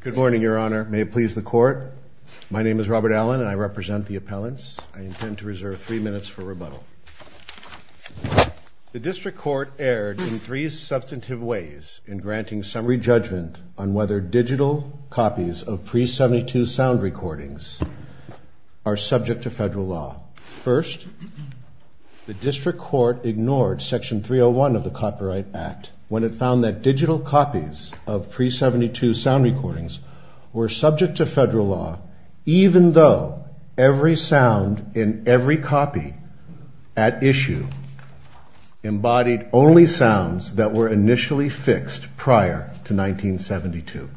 Good morning, Your Honor. May it please the Court. My name is Robert Allen and I represent the appellants. I intend to reserve three minutes for rebuttal. The District Court erred in three substantive ways in granting summary judgment on whether digital copies of pre-'72 sound recordings are subject to federal law. First, the District Court ignored Section 301 of the Copyright Act when it found that digital copies of pre-'72 sound recordings were subject to federal law even though every sound in every copy at issue embodied only sounds that were initially fixed prior to 1972.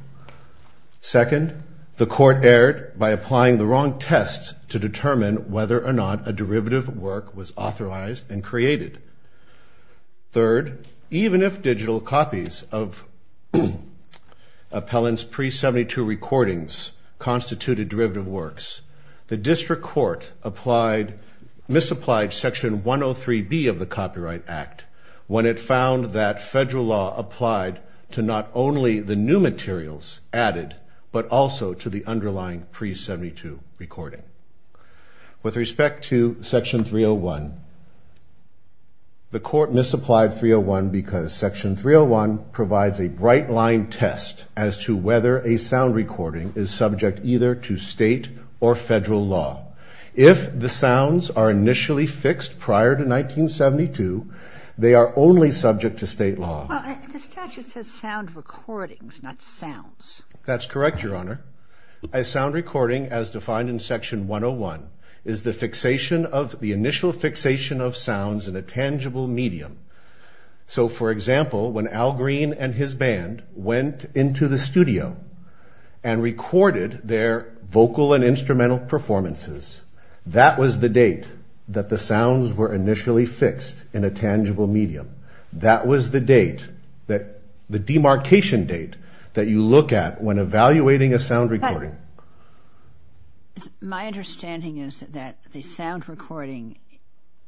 Second, the Court erred by applying the wrong tests to determine whether or not a derivative work was authorized and created. Third, even if digital copies of appellants' pre-'72 recordings constituted derivative works, the District Court misapplied Section 103B of the Copyright Act when it found that federal law applied to not only the new materials added but also to the underlying pre-'72 recording. With respect to Section 301, the Court misapplied 301 because Section 301 provides a bright-line test as to whether a sound recording is subject either to state or federal law. If the sounds are initially fixed prior to 1972, they are only subject to state law. The statute says sound recordings, not sounds. That's correct, Your Honor. A sound recording, as defined in Section 101, is the initial fixation of sounds in a tangible medium. So, for example, when Al Green and his band went into the studio and recorded their vocal and instrumental performances, that was the date that the sounds were initially fixed in a tangible medium. That was the demarcation date that you look at when evaluating a sound recording. My understanding is that the sound recording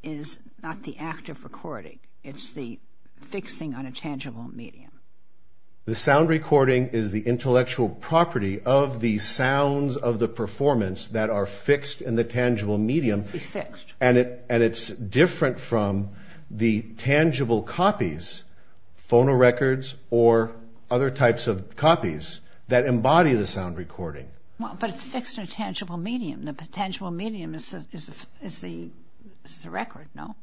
is not the act of recording. It's the fixing on a tangible medium. The sound recording is the intellectual property of the sounds of the performance that are fixed in the tangible medium, and it's different from the tangible copies, phonorecords, or other types of copies that embody the sound recording. But it's fixed in a tangible medium. The tangible medium is the record, no?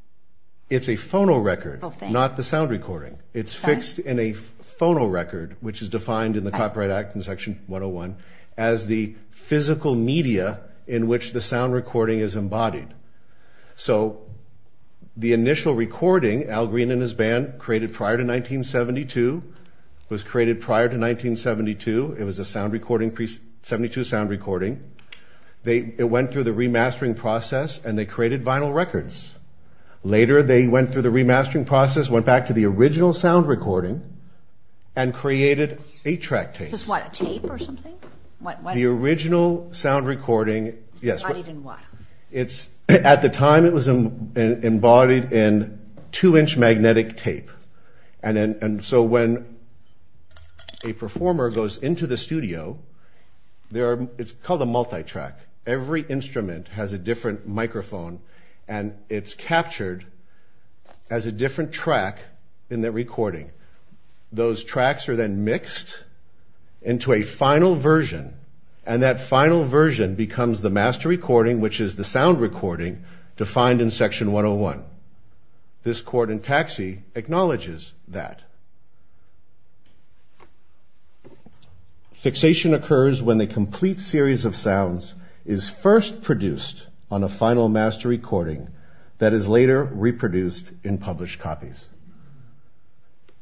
It's a phonorecord, not the sound recording. It's fixed in a phonorecord, which is defined in the Copyright Act in Section 101, as the physical media in which the sound recording is embodied. So, the initial recording Al Green and his band created prior to 1972, was created prior to 1972. It was a sound recording, pre-'72 sound recording. It went through the remastering process, and they created vinyl records. Later, they went through the remastering process, went back to the original sound recording, and created 8-track tapes. Just what, tape or something? The original sound recording, yes. At the time, it was embodied in 2-inch magnetic tape. And so, when a performer goes into the studio, it's called a multi-track. Every instrument has a different microphone, and it's captured as a different track in the recording. Those tracks are then mixed into a final version, and that final version becomes the master recording, which is the sound recording defined in Section 101. This court in Taxi acknowledges that. Fixation occurs when a complete series of sounds is first produced on a final master recording that is later reproduced in published copies.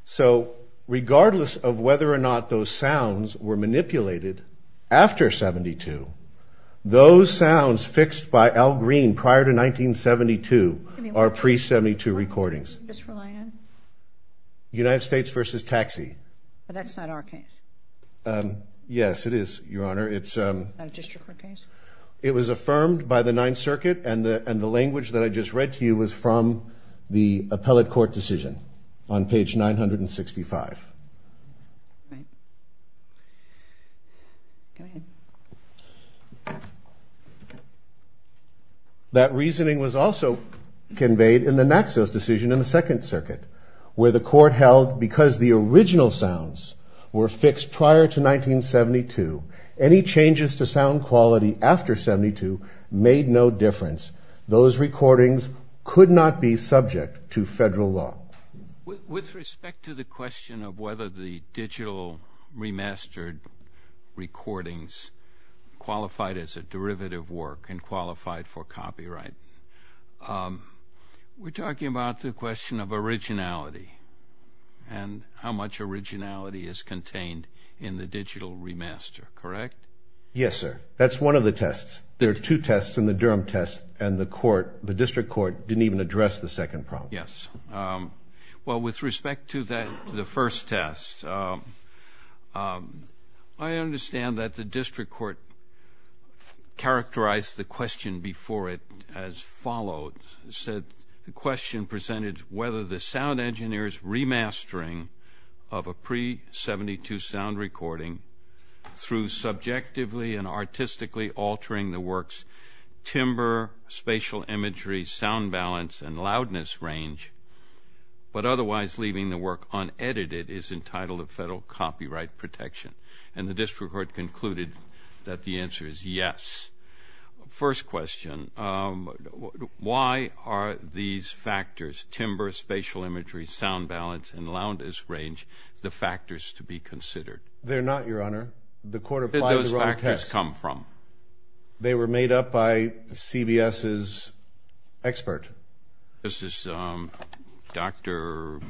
So, regardless of whether or not those sounds were manipulated after 72, those sounds fixed by Al Green prior to 1972 are pre-'72 recordings. United States versus Taxi. But that's not our case. Yes, it is, Your Honor. Not a district court case? It was affirmed by the Ninth Circuit, and the language that I just read to you was from the appellate court decision on page 965. That reasoning was also conveyed in the Naxos decision in the Second Circuit, where the court held because the original sounds were fixed prior to 1972, any changes to sound quality after 72 made no difference. Those recordings could not be subject to federal law. With respect to the question of whether the digital remastered recordings qualified as a derivative work and qualified for copyright, we're talking about the question of originality and how much originality is contained in the digital remaster, correct? Yes, sir. That's one of the tests. There are two tests in the Durham test, and the district court didn't even address the second problem. Yes. Well, with respect to the first test, I understand that the district court characterized the question before it as followed. It said the question presented whether the sound engineer's remastering of a pre-'72 sound recording through subjectively and artistically altering the work's timber, spatial imagery, sound balance, and loudness range, but otherwise leaving the work unedited, is entitled of federal copyright protection. And the district court concluded that the answer is yes. First question, why are these factors, timber, spatial imagery, sound balance, and loudness range the factors to be considered? They're not, Your Honor. The court applied the wrong test. Where did those factors come from? They were made up by CBS's expert. This is Dr.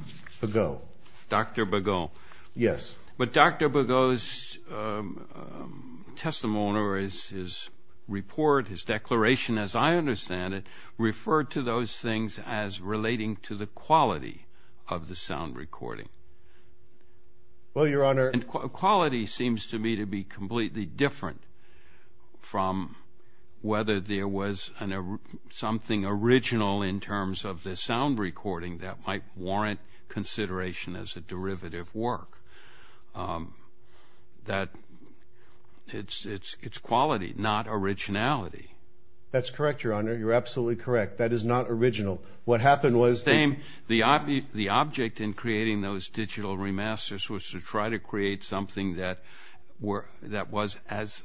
Begault. Dr. Begault. Yes. But Dr. Begault's testimony or his report, his declaration, as I understand it, referred to those things as relating to the quality of the sound recording. Well, Your Honor. And quality seems to me to be completely different from whether there was something original in terms of the sound recording that might warrant consideration as a derivative work. That it's quality, not originality. That's correct, Your Honor. You're absolutely correct. That is not original. What happened was the same. The object in creating those digital remasters was to try to create something that was as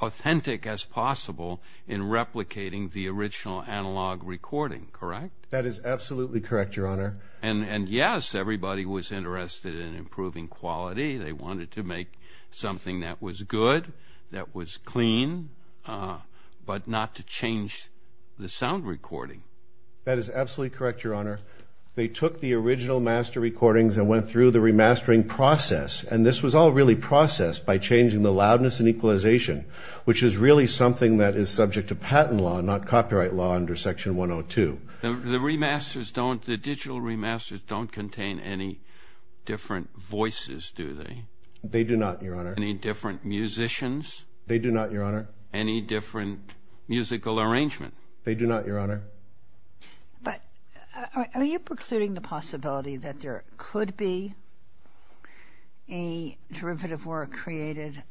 authentic as possible in replicating the original analog recording, correct? That is absolutely correct, Your Honor. And, yes, everybody was interested in improving quality. They wanted to make something that was good, that was clean, but not to change the sound recording. That is absolutely correct, Your Honor. They took the original master recordings and went through the remastering process. And this was all really processed by changing the loudness and equalization, which is really something that is subject to patent law, not copyright law under Section 102. The remasters don't, the digital remasters don't contain any different voices, do they? They do not, Your Honor. Any different musicians? They do not, Your Honor. Any different musical arrangement? They do not, Your Honor. But are you precluding the possibility that there could be a derivative work created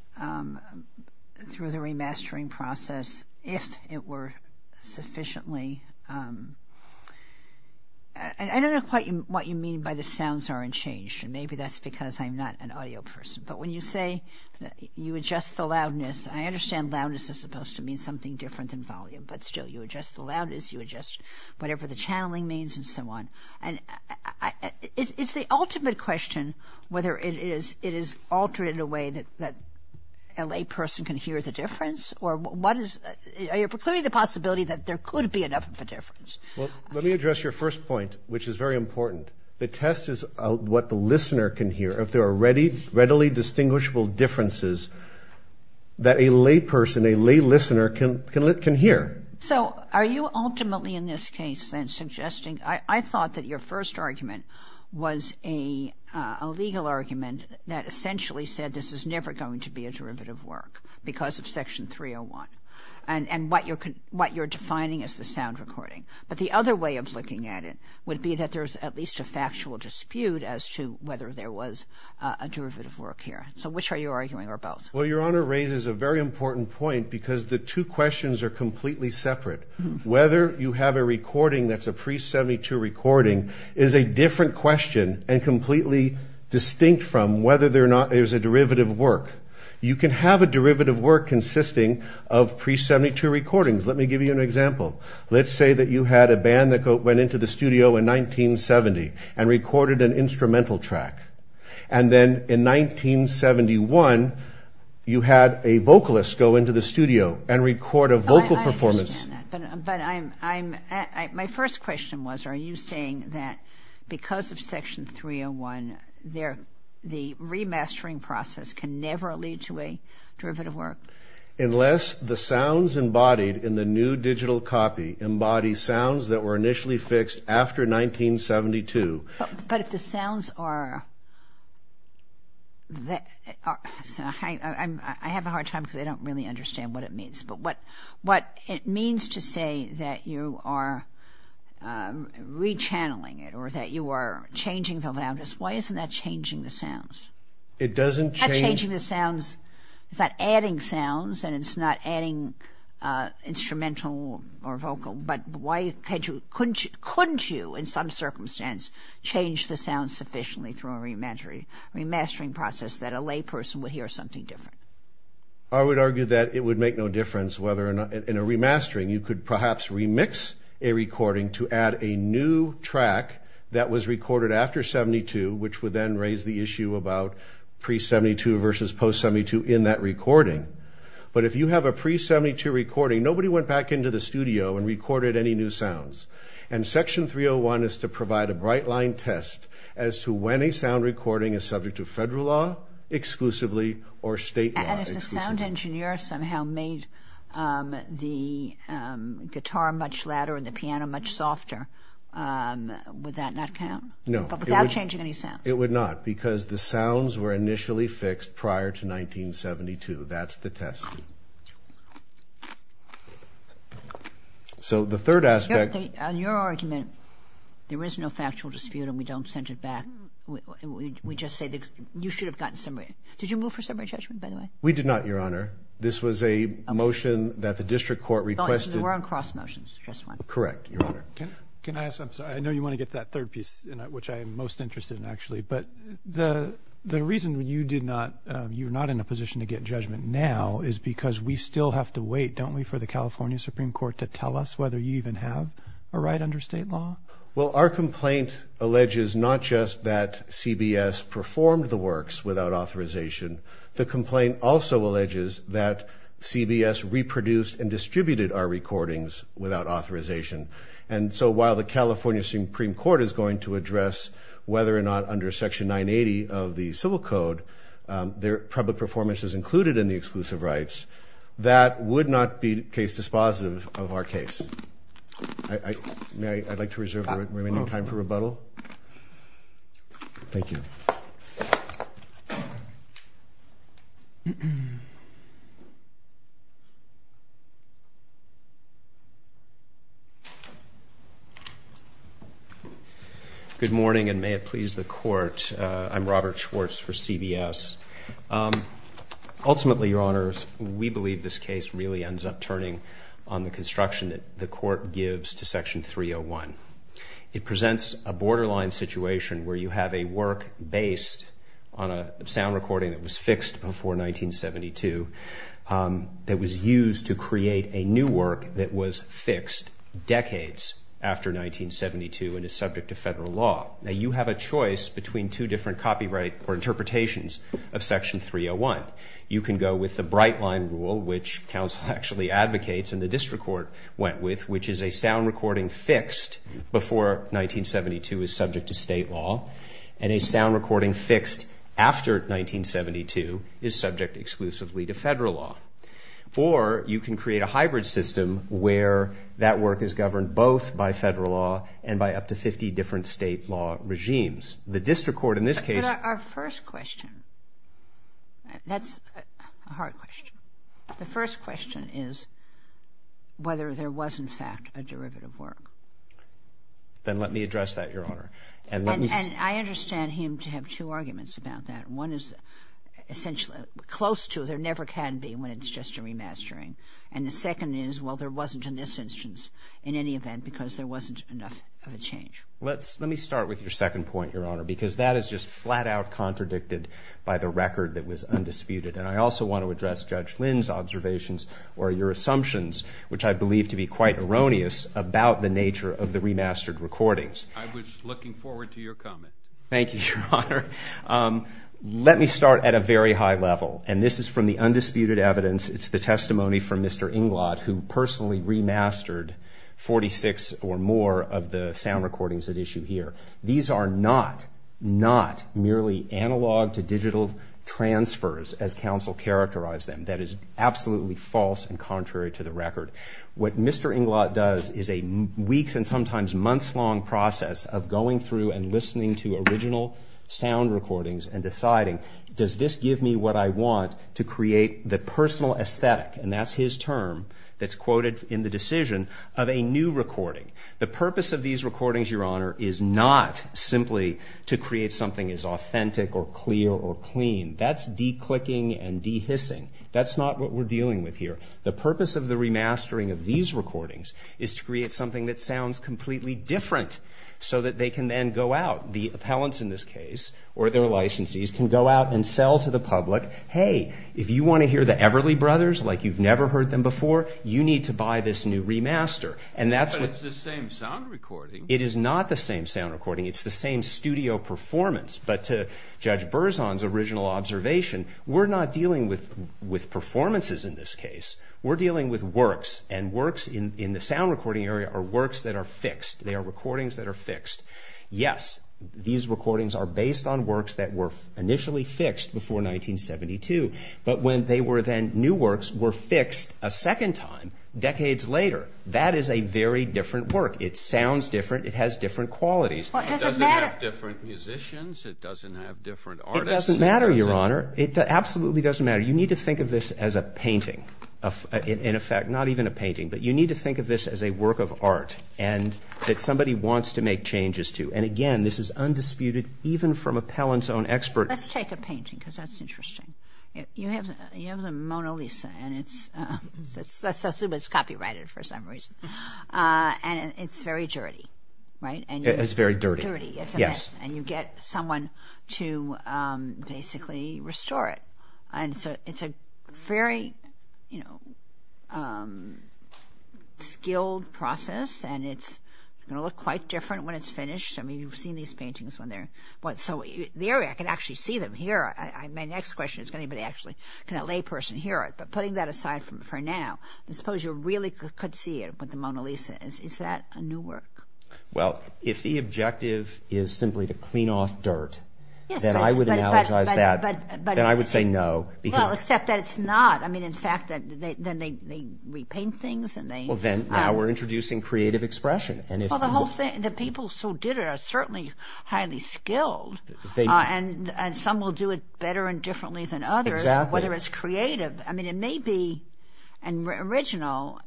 through the remastering process if it were sufficiently? I don't know quite what you mean by the sounds aren't changed. Maybe that's because I'm not an audio person. But when you say you adjust the loudness, I understand loudness is supposed to mean something different than volume, but still you adjust the loudness, you adjust whatever the channeling means and so on. And it's the ultimate question whether it is altered in a way that a layperson can hear the difference or what is, are you precluding the possibility that there could be enough of a difference? Well, let me address your first point, which is very important. The test is what the listener can hear, if there are readily distinguishable differences that a layperson, a laylistener can hear. So are you ultimately in this case then suggesting, I thought that your first argument was a legal argument that essentially said this is never going to be a derivative work because of Section 301 and what you're defining as the sound recording. But the other way of looking at it would be that there's at least a factual dispute as to whether there was a derivative work here. So which are you arguing or both? Well, Your Honor raises a very important point because the two questions are completely separate. Whether you have a recording that's a pre-72 recording is a different question and completely distinct from whether there's a derivative work. You can have a derivative work consisting of pre-72 recordings. Let me give you an example. Let's say that you had a band that went into the studio in 1970 and recorded an instrumental track. And then in 1971, you had a vocalist go into the studio and record a vocal performance. But my first question was are you saying that because of Section 301, the remastering process can never lead to a derivative work? Unless the sounds embodied in the new digital copy embody sounds that were initially fixed after 1972. But if the sounds are, I have a hard time because I don't really understand what it means. But what it means to say that you are re-channeling it or that you are changing the loudness, why isn't that changing the sounds? It doesn't change. It's not changing the sounds. It's not adding sounds and it's not adding instrumental or vocal. But why couldn't you in some circumstance change the sounds sufficiently through a remastering process that a lay person would hear something different? I would argue that it would make no difference whether in a remastering you could perhaps remix a recording to add a new track that was recorded after 72 which would then raise the issue about pre-72 versus post-72 in that recording. But if you have a pre-72 recording, nobody went back into the studio and recorded any new sounds. And Section 301 is to provide a bright line test as to when a sound recording is subject to federal law exclusively or state law exclusively. And if the sound engineer somehow made the guitar much louder and the piano much softer, would that not count? No. Without changing any sounds? It would not because the sounds were initially fixed prior to 1972. That's the test. So the third aspect. On your argument, there is no factual dispute and we don't send it back. We just say you should have gotten summary. Did you move for summary judgment, by the way? We did not, Your Honor. This was a motion that the district court requested. So there weren't cross motions, just one? Correct, Your Honor. Can I ask, I'm sorry, I know you want to get to that third piece which I am most interested in actually. But the reason you did not, you're not in a position to get judgment now is because we still have to wait, don't we, for the California Supreme Court to tell us whether you even have a right under state law? Well, our complaint alleges not just that CBS performed the works without authorization, the complaint also alleges that CBS reproduced and distributed our recordings without authorization. And so while the California Supreme Court is going to address whether or not under Section 980 of the Civil Code public performance is included in the exclusive rights, that would not be case dispositive of our case. May I? I'd like to reserve the remaining time for rebuttal. Thank you. Good morning, and may it please the Court. I'm Robert Schwartz for CBS. Ultimately, Your Honors, we believe this case really ends up turning on the construction that the Court gives to Section 301. It presents a borderline situation where you have a work based on a sound recording that was fixed before 1972 that was used to create a new work that was fixed decades after 1972 and is subject to federal law. Now, you have a choice between two different copyright or interpretations of Section 301. You can go with the Bright Line Rule, which counsel actually advocates and the district court went with, which is a sound recording fixed before 1972 is subject to state law, and a sound recording fixed after 1972 is subject exclusively to federal law. Or you can create a hybrid system where that work is governed both by federal law and by up to 50 different state law regimes. But our first question, that's a hard question. The first question is whether there was, in fact, a derivative work. Then let me address that, Your Honor. And I understand him to have two arguments about that. One is essentially close to there never can be when it's just a remastering. And the second is, well, there wasn't in this instance in any event because there wasn't enough of a change. Let me start with your second point, Your Honor, because that is just flat-out contradicted by the record that was undisputed. And I also want to address Judge Lynn's observations or your assumptions, which I believe to be quite erroneous, about the nature of the remastered recordings. I was looking forward to your comment. Thank you, Your Honor. Let me start at a very high level, and this is from the undisputed evidence. It's the testimony from Mr. Inglot, who personally remastered 46 or more of the sound recordings at issue here. These are not, not merely analog to digital transfers as counsel characterized them. That is absolutely false and contrary to the record. What Mr. Inglot does is a weeks and sometimes months-long process of going through and listening to original sound recordings and deciding does this give me what I want to create the personal aesthetic, and that's his term that's quoted in the decision, of a new recording. The purpose of these recordings, Your Honor, is not simply to create something as authentic or clear or clean. That's de-clicking and de-hissing. That's not what we're dealing with here. The purpose of the remastering of these recordings is to create something that sounds completely different so that they can then go out. The appellants in this case or their licensees can go out and sell to the public, hey, if you want to hear the Everly Brothers like you've never heard them before, you need to buy this new remaster. But it's the same sound recording. It is not the same sound recording. It's the same studio performance. But to Judge Berzon's original observation, we're not dealing with performances in this case. We're dealing with works, and works in the sound recording area are works that are fixed. They are recordings that are fixed. Yes, these recordings are based on works that were initially fixed before 1972, but when they were then new works were fixed a second time decades later. That is a very different work. It sounds different. It has different qualities. It doesn't have different musicians. It doesn't have different artists. It doesn't matter, Your Honor. It absolutely doesn't matter. You need to think of this as a painting, in effect, not even a painting, but you need to think of this as a work of art that somebody wants to make changes to. And, again, this is undisputed even from appellant's own expert. Let's take a painting because that's interesting. You have the Mona Lisa, and it's copyrighted for some reason. And it's very dirty, right? It's very dirty, yes. And you get someone to basically restore it. And so it's a very, you know, skilled process, and it's going to look quite different when it's finished. I mean, you've seen these paintings when they're— So the area, I can actually see them here. My next question is can anybody actually, can a layperson hear it? But putting that aside for now, I suppose you really could see it with the Mona Lisa. Is that a new work? Well, if the objective is simply to clean off dirt, then I would analogize that. Then I would say no because— Well, except that it's not. I mean, in fact, then they repaint things and they— Well, then now we're introducing creative expression. The people who did it are certainly highly skilled, and some will do it better and differently than others, whether it's creative. I mean, it may be original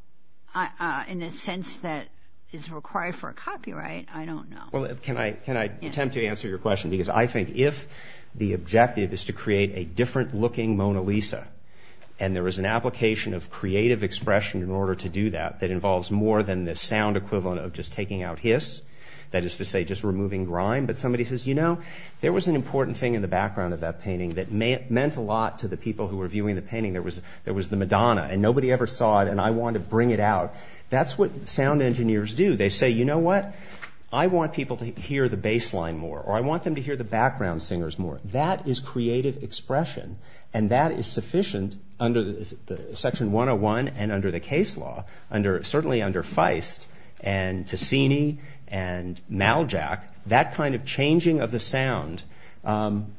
in the sense that it's required for a copyright. I don't know. Well, can I attempt to answer your question? Because I think if the objective is to create a different-looking Mona Lisa, and there is an application of creative expression in order to do that that involves more than the sound equivalent of just taking out hiss, that is to say just removing grime, but somebody says, you know, there was an important thing in the background of that painting that meant a lot to the people who were viewing the painting. There was the Madonna, and nobody ever saw it, and I wanted to bring it out. That's what sound engineers do. They say, you know what? I want people to hear the bass line more, or I want them to hear the background singers more. That is creative expression, and that is sufficient under Section 101 and under the case law, certainly under Feist and Ticini and Maljak, that kind of changing of the sound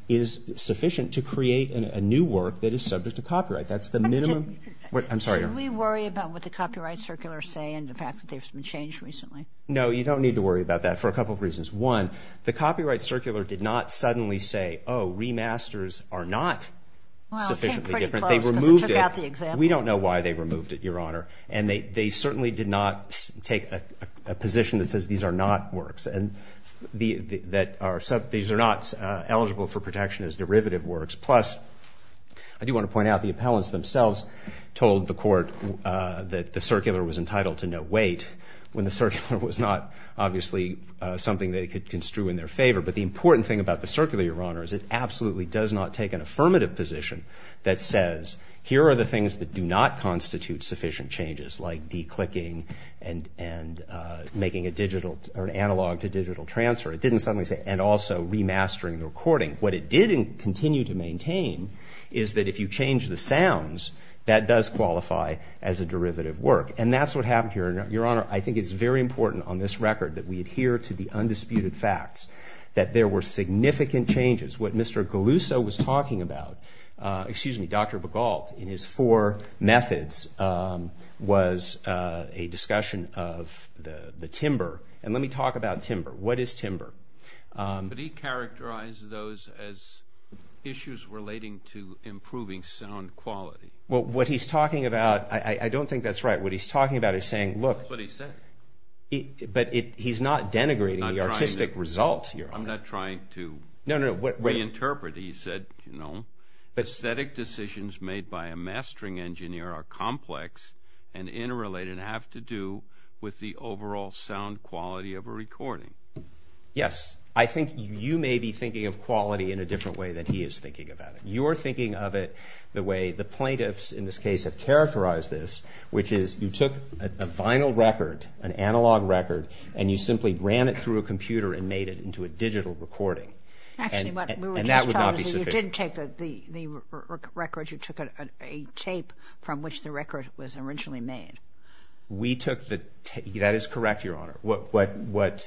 is sufficient to create a new work that is subject to copyright. That's the minimum. I'm sorry. Should we worry about what the copyright circulars say and the fact that there's been change recently? No, you don't need to worry about that for a couple of reasons. One, the copyright circular did not suddenly say, oh, remasters are not sufficiently different. Well, it came pretty close because it took out the example. We don't know why they removed it, Your Honor, and they certainly did not take a position that says these are not works and that these are not eligible for protection as derivative works. Plus, I do want to point out the appellants themselves told the court that the circular was entitled to no weight when the circular was not, obviously, something they could construe in their favor. But the important thing about the circular, Your Honor, is it absolutely does not take an affirmative position that says here are the things that do not constitute sufficient changes, like declicking and making an analog to digital transfer, and also remastering the recording. What it did continue to maintain is that if you change the sounds, that does qualify as a derivative work. And that's what happened here. Your Honor, I think it's very important on this record that we adhere to the undisputed facts that there were significant changes. What Mr. Galuso was talking about, excuse me, Dr. Begalt, in his four methods was a discussion of the timber. And let me talk about timber. What is timber? But he characterized those as issues relating to improving sound quality. Well, what he's talking about, I don't think that's right. What he's talking about is saying, look. That's what he said. But he's not denigrating the artistic result, Your Honor. I'm not trying to. No, no. Reinterpret it. He said, you know, aesthetic decisions made by a mastering engineer are complex and interrelated and have to do with the overall sound quality of a recording. Yes. I think you may be thinking of quality in a different way than he is thinking about it. You're thinking of it the way the plaintiffs, in this case, have characterized this, which is you took a vinyl record, an analog record, and you simply ran it through a computer and made it into a digital recording. Actually, what we were just told is that you didn't take the record. You took a tape from which the record was originally made. We took the tape. That is correct, Your Honor. What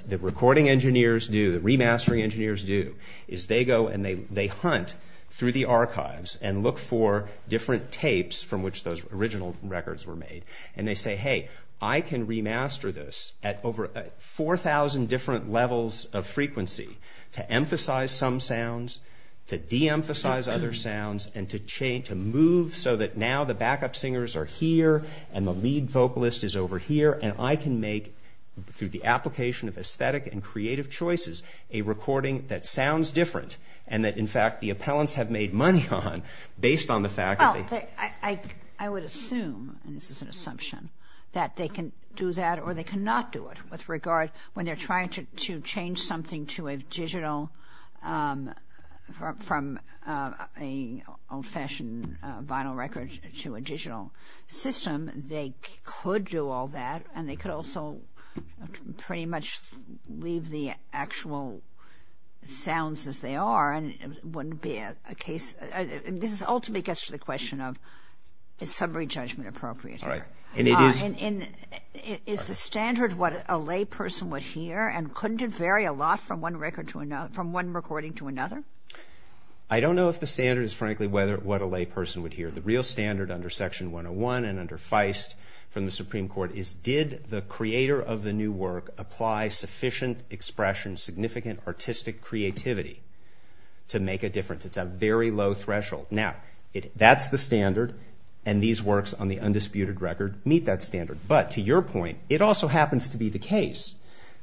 the recording engineers do, the remastering engineers do, is they go and they hunt through the archives and look for different tapes from which those original records were made. And they say, hey, I can remaster this at over 4,000 different levels of frequency to emphasize some sounds, to de-emphasize other sounds, and to move so that now the backup singers are here and the lead vocalist is over here, and I can make, through the application of aesthetic and creative choices, a recording that sounds different and that, in fact, the appellants have made money on based on the fact that... I would assume, and this is an assumption, that they can do that or they cannot do it with regard, when they're trying to change something to a digital... from an old-fashioned vinyl record to a digital system, they could do all that, and they could also pretty much leave the actual sounds as they are, and it wouldn't be a case... This ultimately gets to the question of is summary judgment appropriate here. All right. And it is... Is the standard what a layperson would hear, and couldn't it vary a lot from one recording to another? I don't know if the standard is, frankly, what a layperson would hear. The real standard under Section 101 and under Feist from the Supreme Court is did the creator of the new work apply sufficient expression, significant artistic creativity to make a difference. It's a very low threshold. Now, that's the standard, and these works on the undisputed record meet that standard. But to your point, it also happens to be the case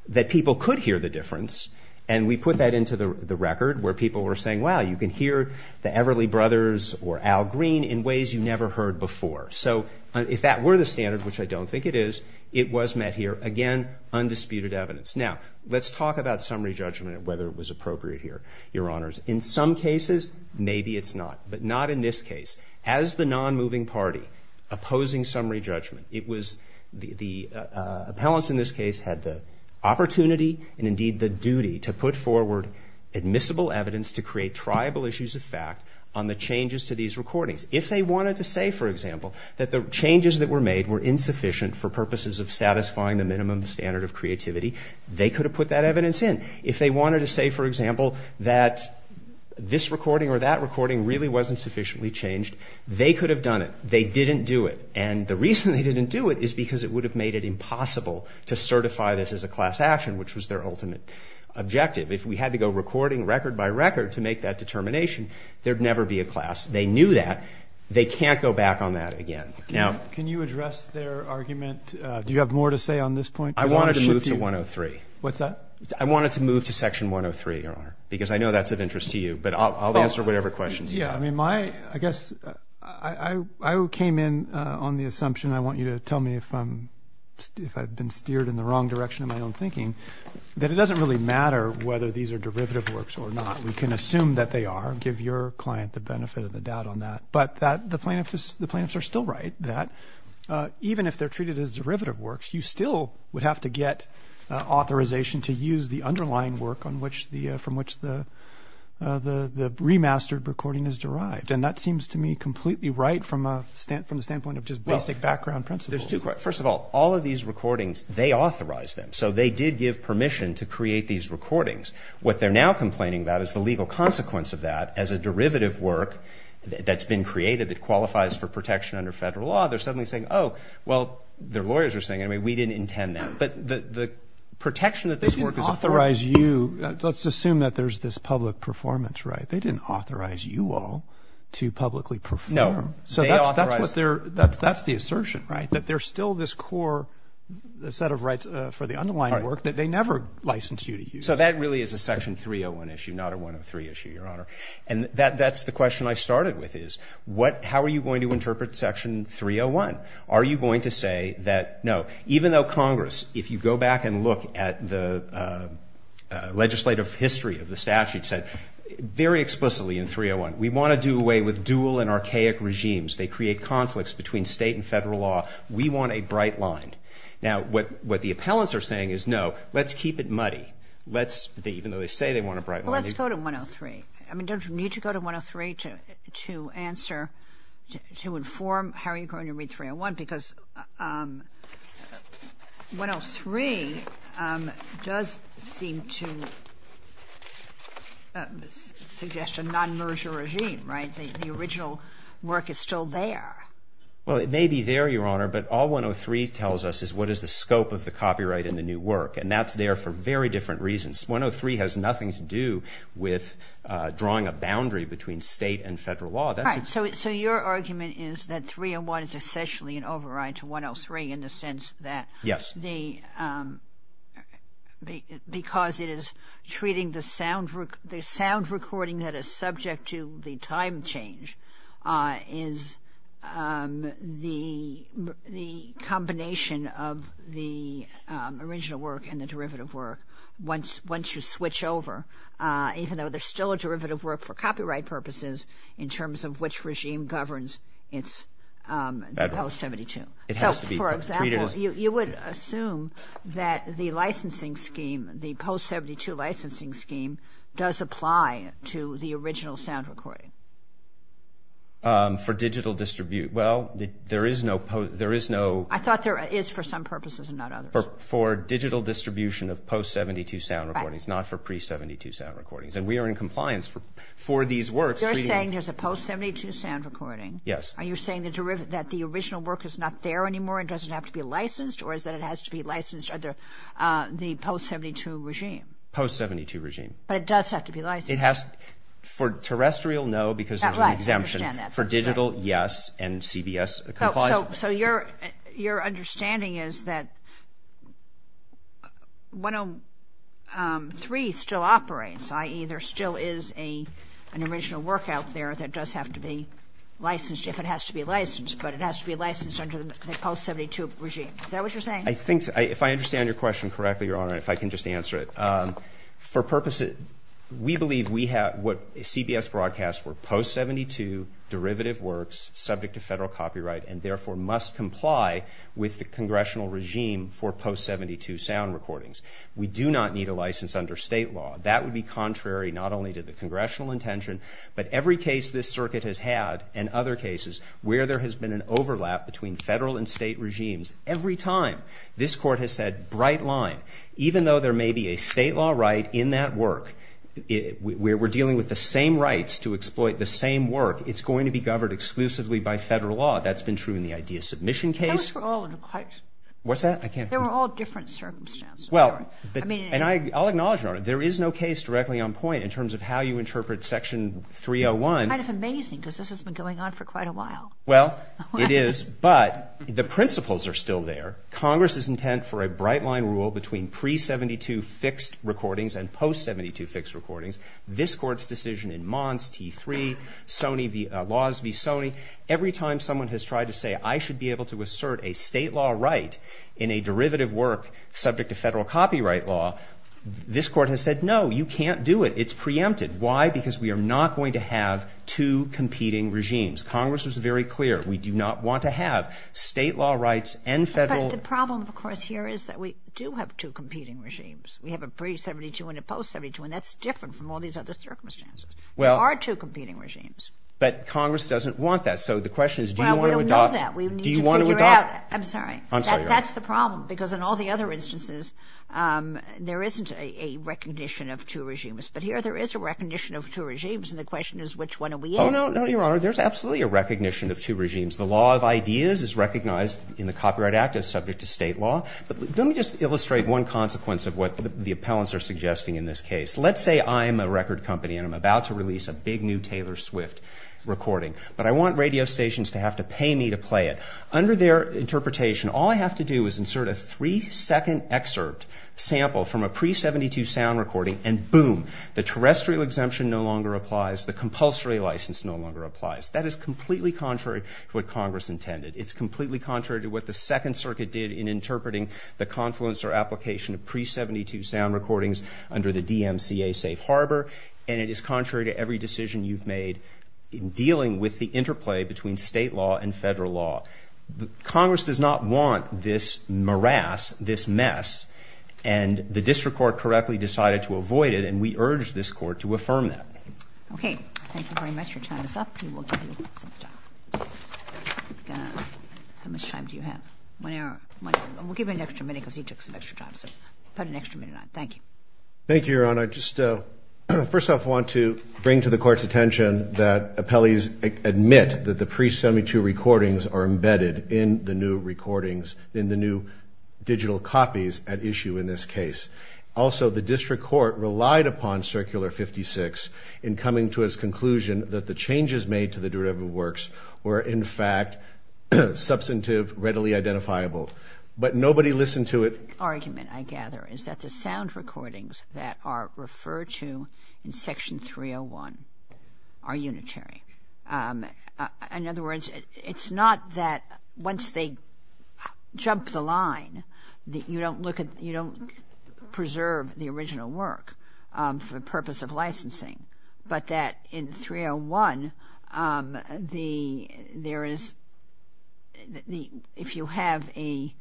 that people could hear the difference, and we put that into the record where people were saying, wow, you can hear the Everly Brothers or Al Green in ways you never heard before. So if that were the standard, which I don't think it is, it was met here. Again, undisputed evidence. Now, let's talk about summary judgment and whether it was appropriate here. Your Honors, in some cases, maybe it's not. But not in this case. As the nonmoving party opposing summary judgment, it was the appellants in this case had the opportunity and indeed the duty to put forward admissible evidence to create triable issues of fact on the changes to these recordings. If they wanted to say, for example, that the changes that were made were insufficient for purposes of satisfying the minimum standard of creativity, they could have put that evidence in. If they wanted to say, for example, that this recording or that recording really wasn't sufficiently changed, they could have done it. They didn't do it. And the reason they didn't do it is because it would have made it impossible to certify this as a class action, which was their ultimate objective. If we had to go recording, record by record, to make that determination, there would never be a class. They knew that. They can't go back on that again. Can you address their argument? Do you have more to say on this point? I wanted to move to 103. What's that? I wanted to move to Section 103, Your Honor, because I know that's of interest to you. But I'll answer whatever questions you have. I guess I came in on the assumption, I want you to tell me if I've been steered in the wrong direction in my own thinking, that it doesn't really matter whether these are derivative works or not. We can assume that they are and give your client the benefit of the doubt on that. But the plaintiffs are still right, that even if they're treated as derivative works, you still would have to get authorization to use the underlying work from which the remastered recording is derived. And that seems to me completely right from the standpoint of just basic background principles. First of all, all of these recordings, they authorized them. So they did give permission to create these recordings. What they're now complaining about is the legal consequence of that as a derivative work that's been created that qualifies for protection under federal law. They're suddenly saying, oh, well, their lawyers are saying, I mean, we didn't intend that. But the protection that this work is afforded. Roberts. They didn't authorize you. Let's assume that there's this public performance, right? They didn't authorize you all to publicly perform. So that's what they're, that's the assertion, right, that there's still this core set of rights for the underlying work that they never licensed you to use. So that really is a Section 301 issue, not a 103 issue, Your Honor. And that's the question I started with is, what, how are you going to interpret Section 301? Are you going to say that, no, even though Congress, if you go back and look at the legislative history of the statute, said very explicitly in 301, we want to do away with dual and archaic regimes. They create conflicts between state and federal law. We want a bright line. Now, what the appellants are saying is, no, let's keep it muddy. Let's, even though they say they want a bright line. Well, let's go to 103. I mean, don't you need to go to 103 to answer, to inform how are you going to read 301? Because 103 does seem to suggest a non-merger regime, right? The original work is still there. Well, it may be there, Your Honor, but all 103 tells us is what is the scope of the copyright in the new work. And that's there for very different reasons. 103 has nothing to do with drawing a boundary between state and federal law. So your argument is that 301 is essentially an override to 103 in the sense that because it is treating the sound recording that is subject to the time change is the combination of the original work and the derivative work. Once you switch over, even though there's still a derivative work for copyright purposes in terms of which regime governs its post-72. So, for example, you would assume that the licensing scheme, the post-72 licensing scheme does apply to the original sound recording. For digital distribute. Well, there is no post, there is no. I thought there is for some purposes and not others. For digital distribution of post-72 sound recordings, not for pre-72 sound recordings. And we are in compliance for these works. You're saying there's a post-72 sound recording. Yes. Are you saying that the original work is not there anymore and doesn't have to be licensed or is that it has to be licensed under the post-72 regime? Post-72 regime. But it does have to be licensed. For terrestrial, no, because there's an exemption. For digital, yes, and CBS complies with it. So your understanding is that 103 still operates, i.e., there still is an original work out there that does have to be licensed, if it has to be licensed, but it has to be licensed under the post-72 regime. Is that what you're saying? If I understand your question correctly, Your Honor, and if I can just answer it. For purposes, we believe what CBS broadcasts were post-72 derivative works subject to federal copyright and, therefore, must comply with the congressional regime for post-72 sound recordings. We do not need a license under state law. That would be contrary not only to the congressional intention, but every case this circuit has had and other cases where there has been an overlap between federal and state regimes, every time this Court has said, bright line, even though there may be a state law right in that work, we're dealing with the same rights to exploit the same work, it's going to be governed exclusively by federal law. That's been true in the idea submission case. That was for all of the courts. What's that? I can't hear you. They were all different circumstances. Well, and I'll acknowledge, Your Honor, there is no case directly on point in terms of how you interpret Section 301. It's kind of amazing because this has been going on for quite a while. Well, it is, but the principles are still there. Congress's intent for a bright line rule between pre-72 fixed recordings and post-72 fixed recordings, this Court's decision in Mons, T3, Sony v. Laws v. Sony, every time someone has tried to say I should be able to assert a state law right in a derivative work subject to federal copyright law, this Court has said, no, you can't do it. It's preempted. Why? Because we are not going to have two competing regimes. Congress was very clear. We do not want to have state law rights and federal. But the problem, of course, here is that we do have two competing regimes. We have a pre-72 and a post-72, and that's different from all these other circumstances. Well. There are two competing regimes. But Congress doesn't want that. So the question is do you want to adopt? Well, we don't want that. We need to figure out. Do you want to adopt? I'm sorry. I'm sorry, Your Honor. That's the problem because in all the other instances there isn't a recognition of two regimes. But here there is a recognition of two regimes, and the question is which one are we in? Oh, no, no, Your Honor. There's absolutely a recognition of two regimes. The law of ideas is recognized in the Copyright Act as subject to state law. But let me just illustrate one consequence of what the appellants are suggesting in this case. Let's say I'm a record company, and I'm about to release a big new Taylor Swift recording. But I want radio stations to have to pay me to play it. Under their interpretation, all I have to do is insert a three-second excerpt sample from a pre-72 sound recording, and boom, the terrestrial exemption no longer applies, the compulsory license no longer applies. That is completely contrary to what Congress intended. It's completely contrary to what the Second Circuit did in interpreting the confluence or application of pre-72 sound recordings under the DMCA safe harbor. And it is contrary to every decision you've made in dealing with the interplay between state law and Federal law. Congress does not want this morass, this mess, and the district court correctly decided to avoid it, and we urge this Court to affirm that. Okay. Thank you very much. Your time is up. We will give you some time. How much time do you have? One hour. We'll give him an extra minute because he took some extra time, so put an extra minute on it. Thank you. Thank you, Your Honor. First off, I want to bring to the Court's attention that appellees admit that the pre-72 recordings are embedded in the new recordings, in the new digital copies at issue in this case. Also, the district court relied upon Circular 56 in coming to its conclusion that the changes made to the derivative works were, in fact, substantive, readily identifiable. But nobody listened to it. The argument, I gather, is that the sound recordings that are referred to in Section 301 are unitary. In other words, it's not that once they jump the line, you don't preserve the original work for the purpose of licensing, but that in 301 if you have a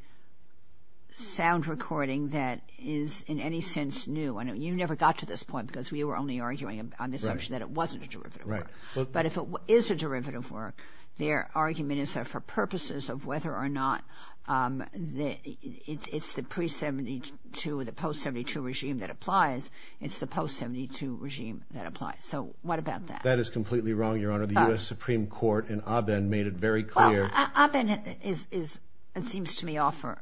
sound recording that is in any sense new, and you never got to this point because we were only arguing on the assumption that it wasn't a derivative work. But if it is a derivative work, their argument is that for purposes of whether or not it's the pre-72 or the post-72 regime that applies, it's the post-72 regime that applies. So what about that? That is completely wrong, Your Honor. The U.S. Supreme Court in Aben made it very clear. Well, Aben is, it seems to me, off for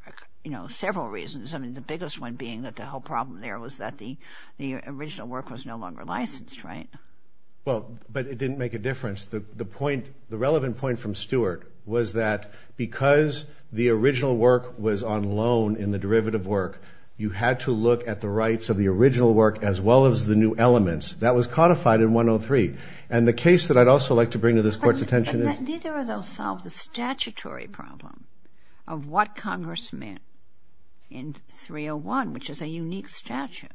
several reasons, the biggest one being that the whole problem there was that the original work was no longer licensed, right? Well, but it didn't make a difference. The relevant point from Stewart was that because the original work was on loan in the derivative work, you had to look at the rights of the original work as well as the new elements. That was codified in 103. And the case that I'd also like to bring to this Court's attention is that. But neither of those solved the statutory problem of what Congress meant in 301, which is a unique statute,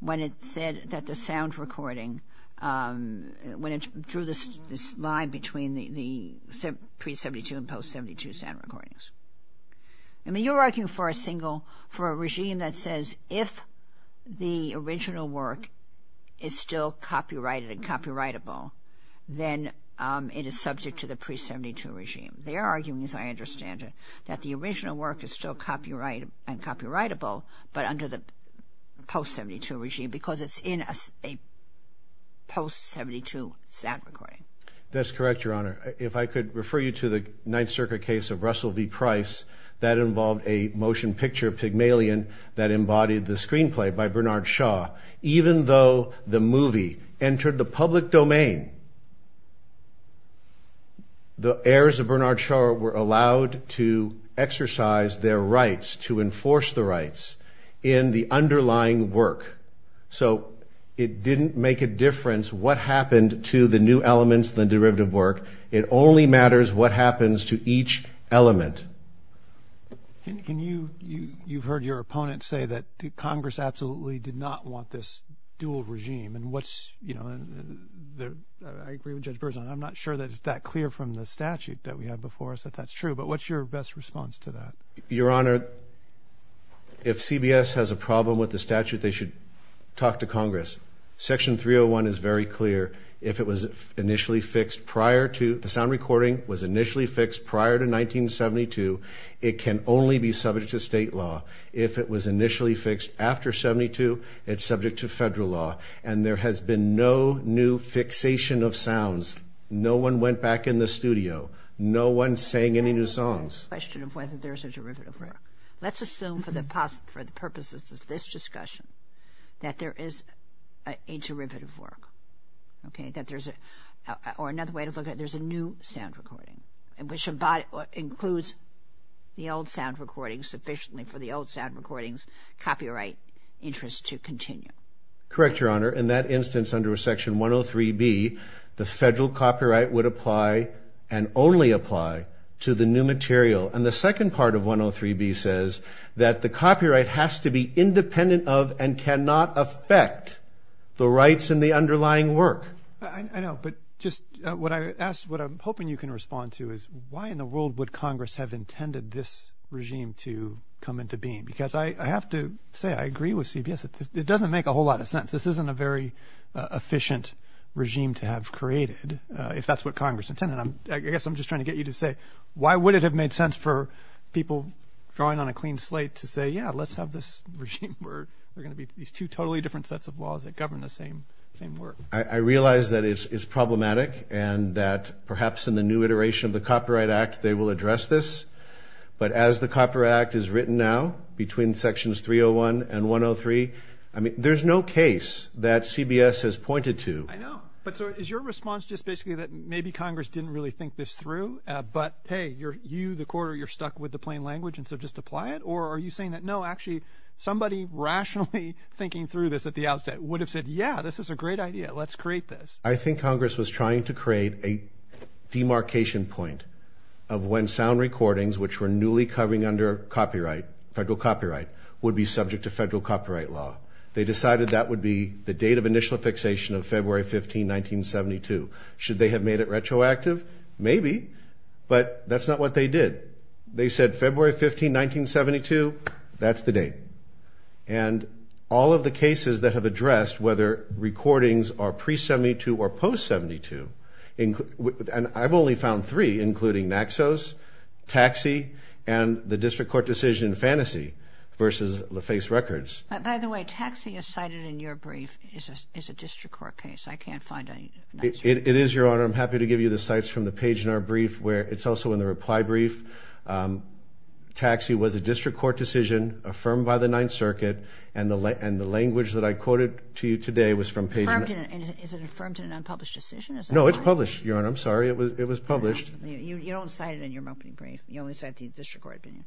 when it said that the sound recording, when it drew this line between the pre-72 and post-72 sound recordings. I mean, you're arguing for a single, for a regime that says, if the original work is still copyrighted and copyrightable, then it is subject to the pre-72 regime. They are arguing, as I understand it, that the original work is still copyrighted and copyrightable, but under the post-72 regime because it's in a post-72 sound recording. That's correct, Your Honor. If I could refer you to the Ninth Circuit case of Russell v. Price, that involved a motion picture, Pygmalion, that embodied the screenplay by Bernard Shaw. Even though the movie entered the public domain, the heirs of Bernard Shaw were allowed to exercise their rights, to enforce the rights in the underlying work. So it didn't make a difference what happened to the new elements in the derivative work. It only matters what happens to each element. You've heard your opponent say that Congress absolutely did not want this dual regime. I agree with Judge Berzon. I'm not sure that it's that clear from the statute that we have before us that that's true, but what's your best response to that? Your Honor, if CBS has a problem with the statute, they should talk to Congress. Section 301 is very clear. If it was initially fixed prior to the sound recording was initially fixed prior to 1972, it can only be subject to state law. If it was initially fixed after 72, it's subject to federal law. And there has been no new fixation of sounds. No one went back in the studio. No one sang any new songs. The question of whether there's a derivative work. Let's assume for the purposes of this discussion that there is a derivative work, okay, or another way to look at it, there's a new sound recording, which includes the old sound recording sufficiently for the old sound recording's copyright interest to continue. Correct, Your Honor. In that instance under Section 103B, the federal copyright would apply and only apply to the new material. And the second part of 103B says that the copyright has to be independent of and cannot affect the rights and the underlying work. I know, but just what I asked, what I'm hoping you can respond to is why in the world would Congress have intended this regime to come into being? Because I have to say I agree with CBS. It doesn't make a whole lot of sense. This isn't a very efficient regime to have created, if that's what Congress intended. I guess I'm just trying to get you to say, why would it have made sense for people drawing on a clean slate to say, yeah, let's have this regime where there are going to be these two totally different sets of laws that govern the same work? I realize that it's problematic and that perhaps in the new iteration of the Copyright Act they will address this. But as the Copyright Act is written now between Sections 301 and 103, there's no case that CBS has pointed to. I know. But so is your response just basically that maybe Congress didn't really think this through, but, hey, you, the court, you're stuck with the plain language and so just apply it? Or are you saying that, no, actually, somebody rationally thinking through this at the outset would have said, yeah, this is a great idea, let's create this. I think Congress was trying to create a demarcation point of when sound recordings, which were newly covering under copyright, federal copyright, would be subject to federal copyright law. They decided that would be the date of initial fixation of February 15, 1972. Should they have made it retroactive? Maybe. But that's not what they did. They said February 15, 1972, that's the date. And all of the cases that have addressed whether recordings are pre-'72 or post-'72, and I've only found three, including Naxos, Taxi, and the District Court decision in Fantasy versus LaFace Records. By the way, Taxi is cited in your brief as a District Court case. I can't find it. It is, Your Honor. I'm happy to give you the cites from the Paginar brief. It's also in the reply brief. Taxi was a District Court decision affirmed by the Ninth Circuit, and the language that I quoted to you today was from Paginar. Is it affirmed in an unpublished decision? No, it's published, Your Honor. I'm sorry. It was published. You don't cite it in your opening brief. You only cite the District Court opinion.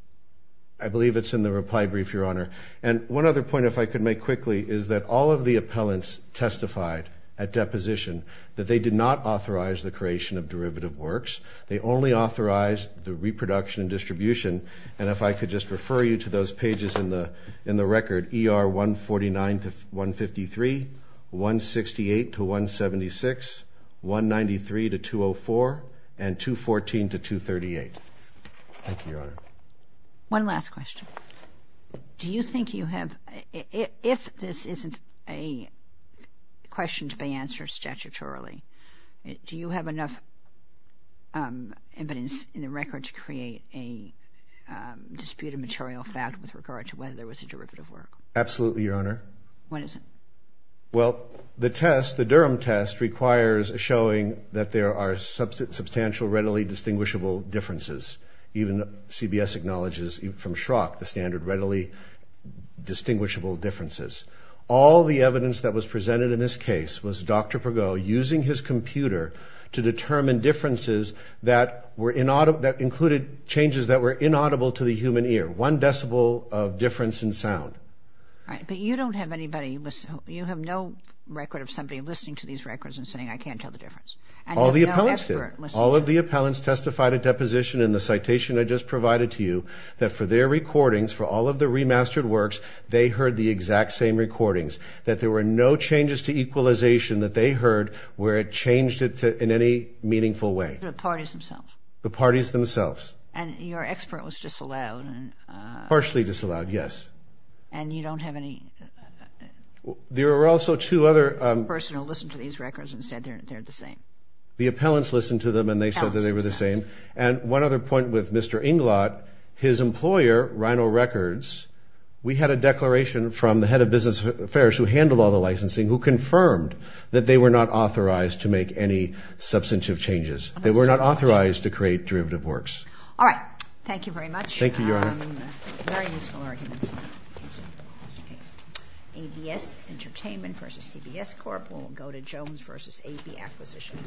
I believe it's in the reply brief, Your Honor. And one other point, if I could make quickly, is that all of the appellants testified at deposition that they did not authorize the creation of derivative works. They only authorized the reproduction and distribution. And if I could just refer you to those pages in the record, ER 149-153, 168-176, 193-204, and 214-238. Thank you, Your Honor. One last question. Do you think you have, if this isn't a question to be answered statutorily, do you have enough evidence in the record to create a disputed material fact with regard to whether there was a derivative work? Absolutely, Your Honor. What is it? Well, the test, the Durham test, requires a showing that there are substantial, readily distinguishable differences. Even CBS acknowledges from Schrock the standard readily distinguishable differences. All the evidence that was presented in this case was Dr. Pagot using his computer to determine differences that were inaudible, that included changes that were inaudible to the human ear. One decibel of difference in sound. All right. But you don't have anybody, you have no record of somebody listening to these records and saying, I can't tell the difference. All the appellants did. They provided deposition in the citation I just provided to you, that for their recordings, for all of the remastered works, they heard the exact same recordings, that there were no changes to equalization that they heard where it changed it in any meaningful way. The parties themselves. The parties themselves. And your expert was disallowed. Partially disallowed, yes. And you don't have any person who listened to these records and said they're the same. The appellants listened to them and they said that they were the same. And one other point with Mr. Inglot, his employer, Rhino Records, we had a declaration from the head of business affairs, who handled all the licensing, who confirmed that they were not authorized to make any substantive changes. They were not authorized to create derivative works. All right. Thank you very much. Thank you, Your Honor. Very useful arguments. ABS Entertainment versus CBS Corp. We'll go to Jones versus AB Acquisition.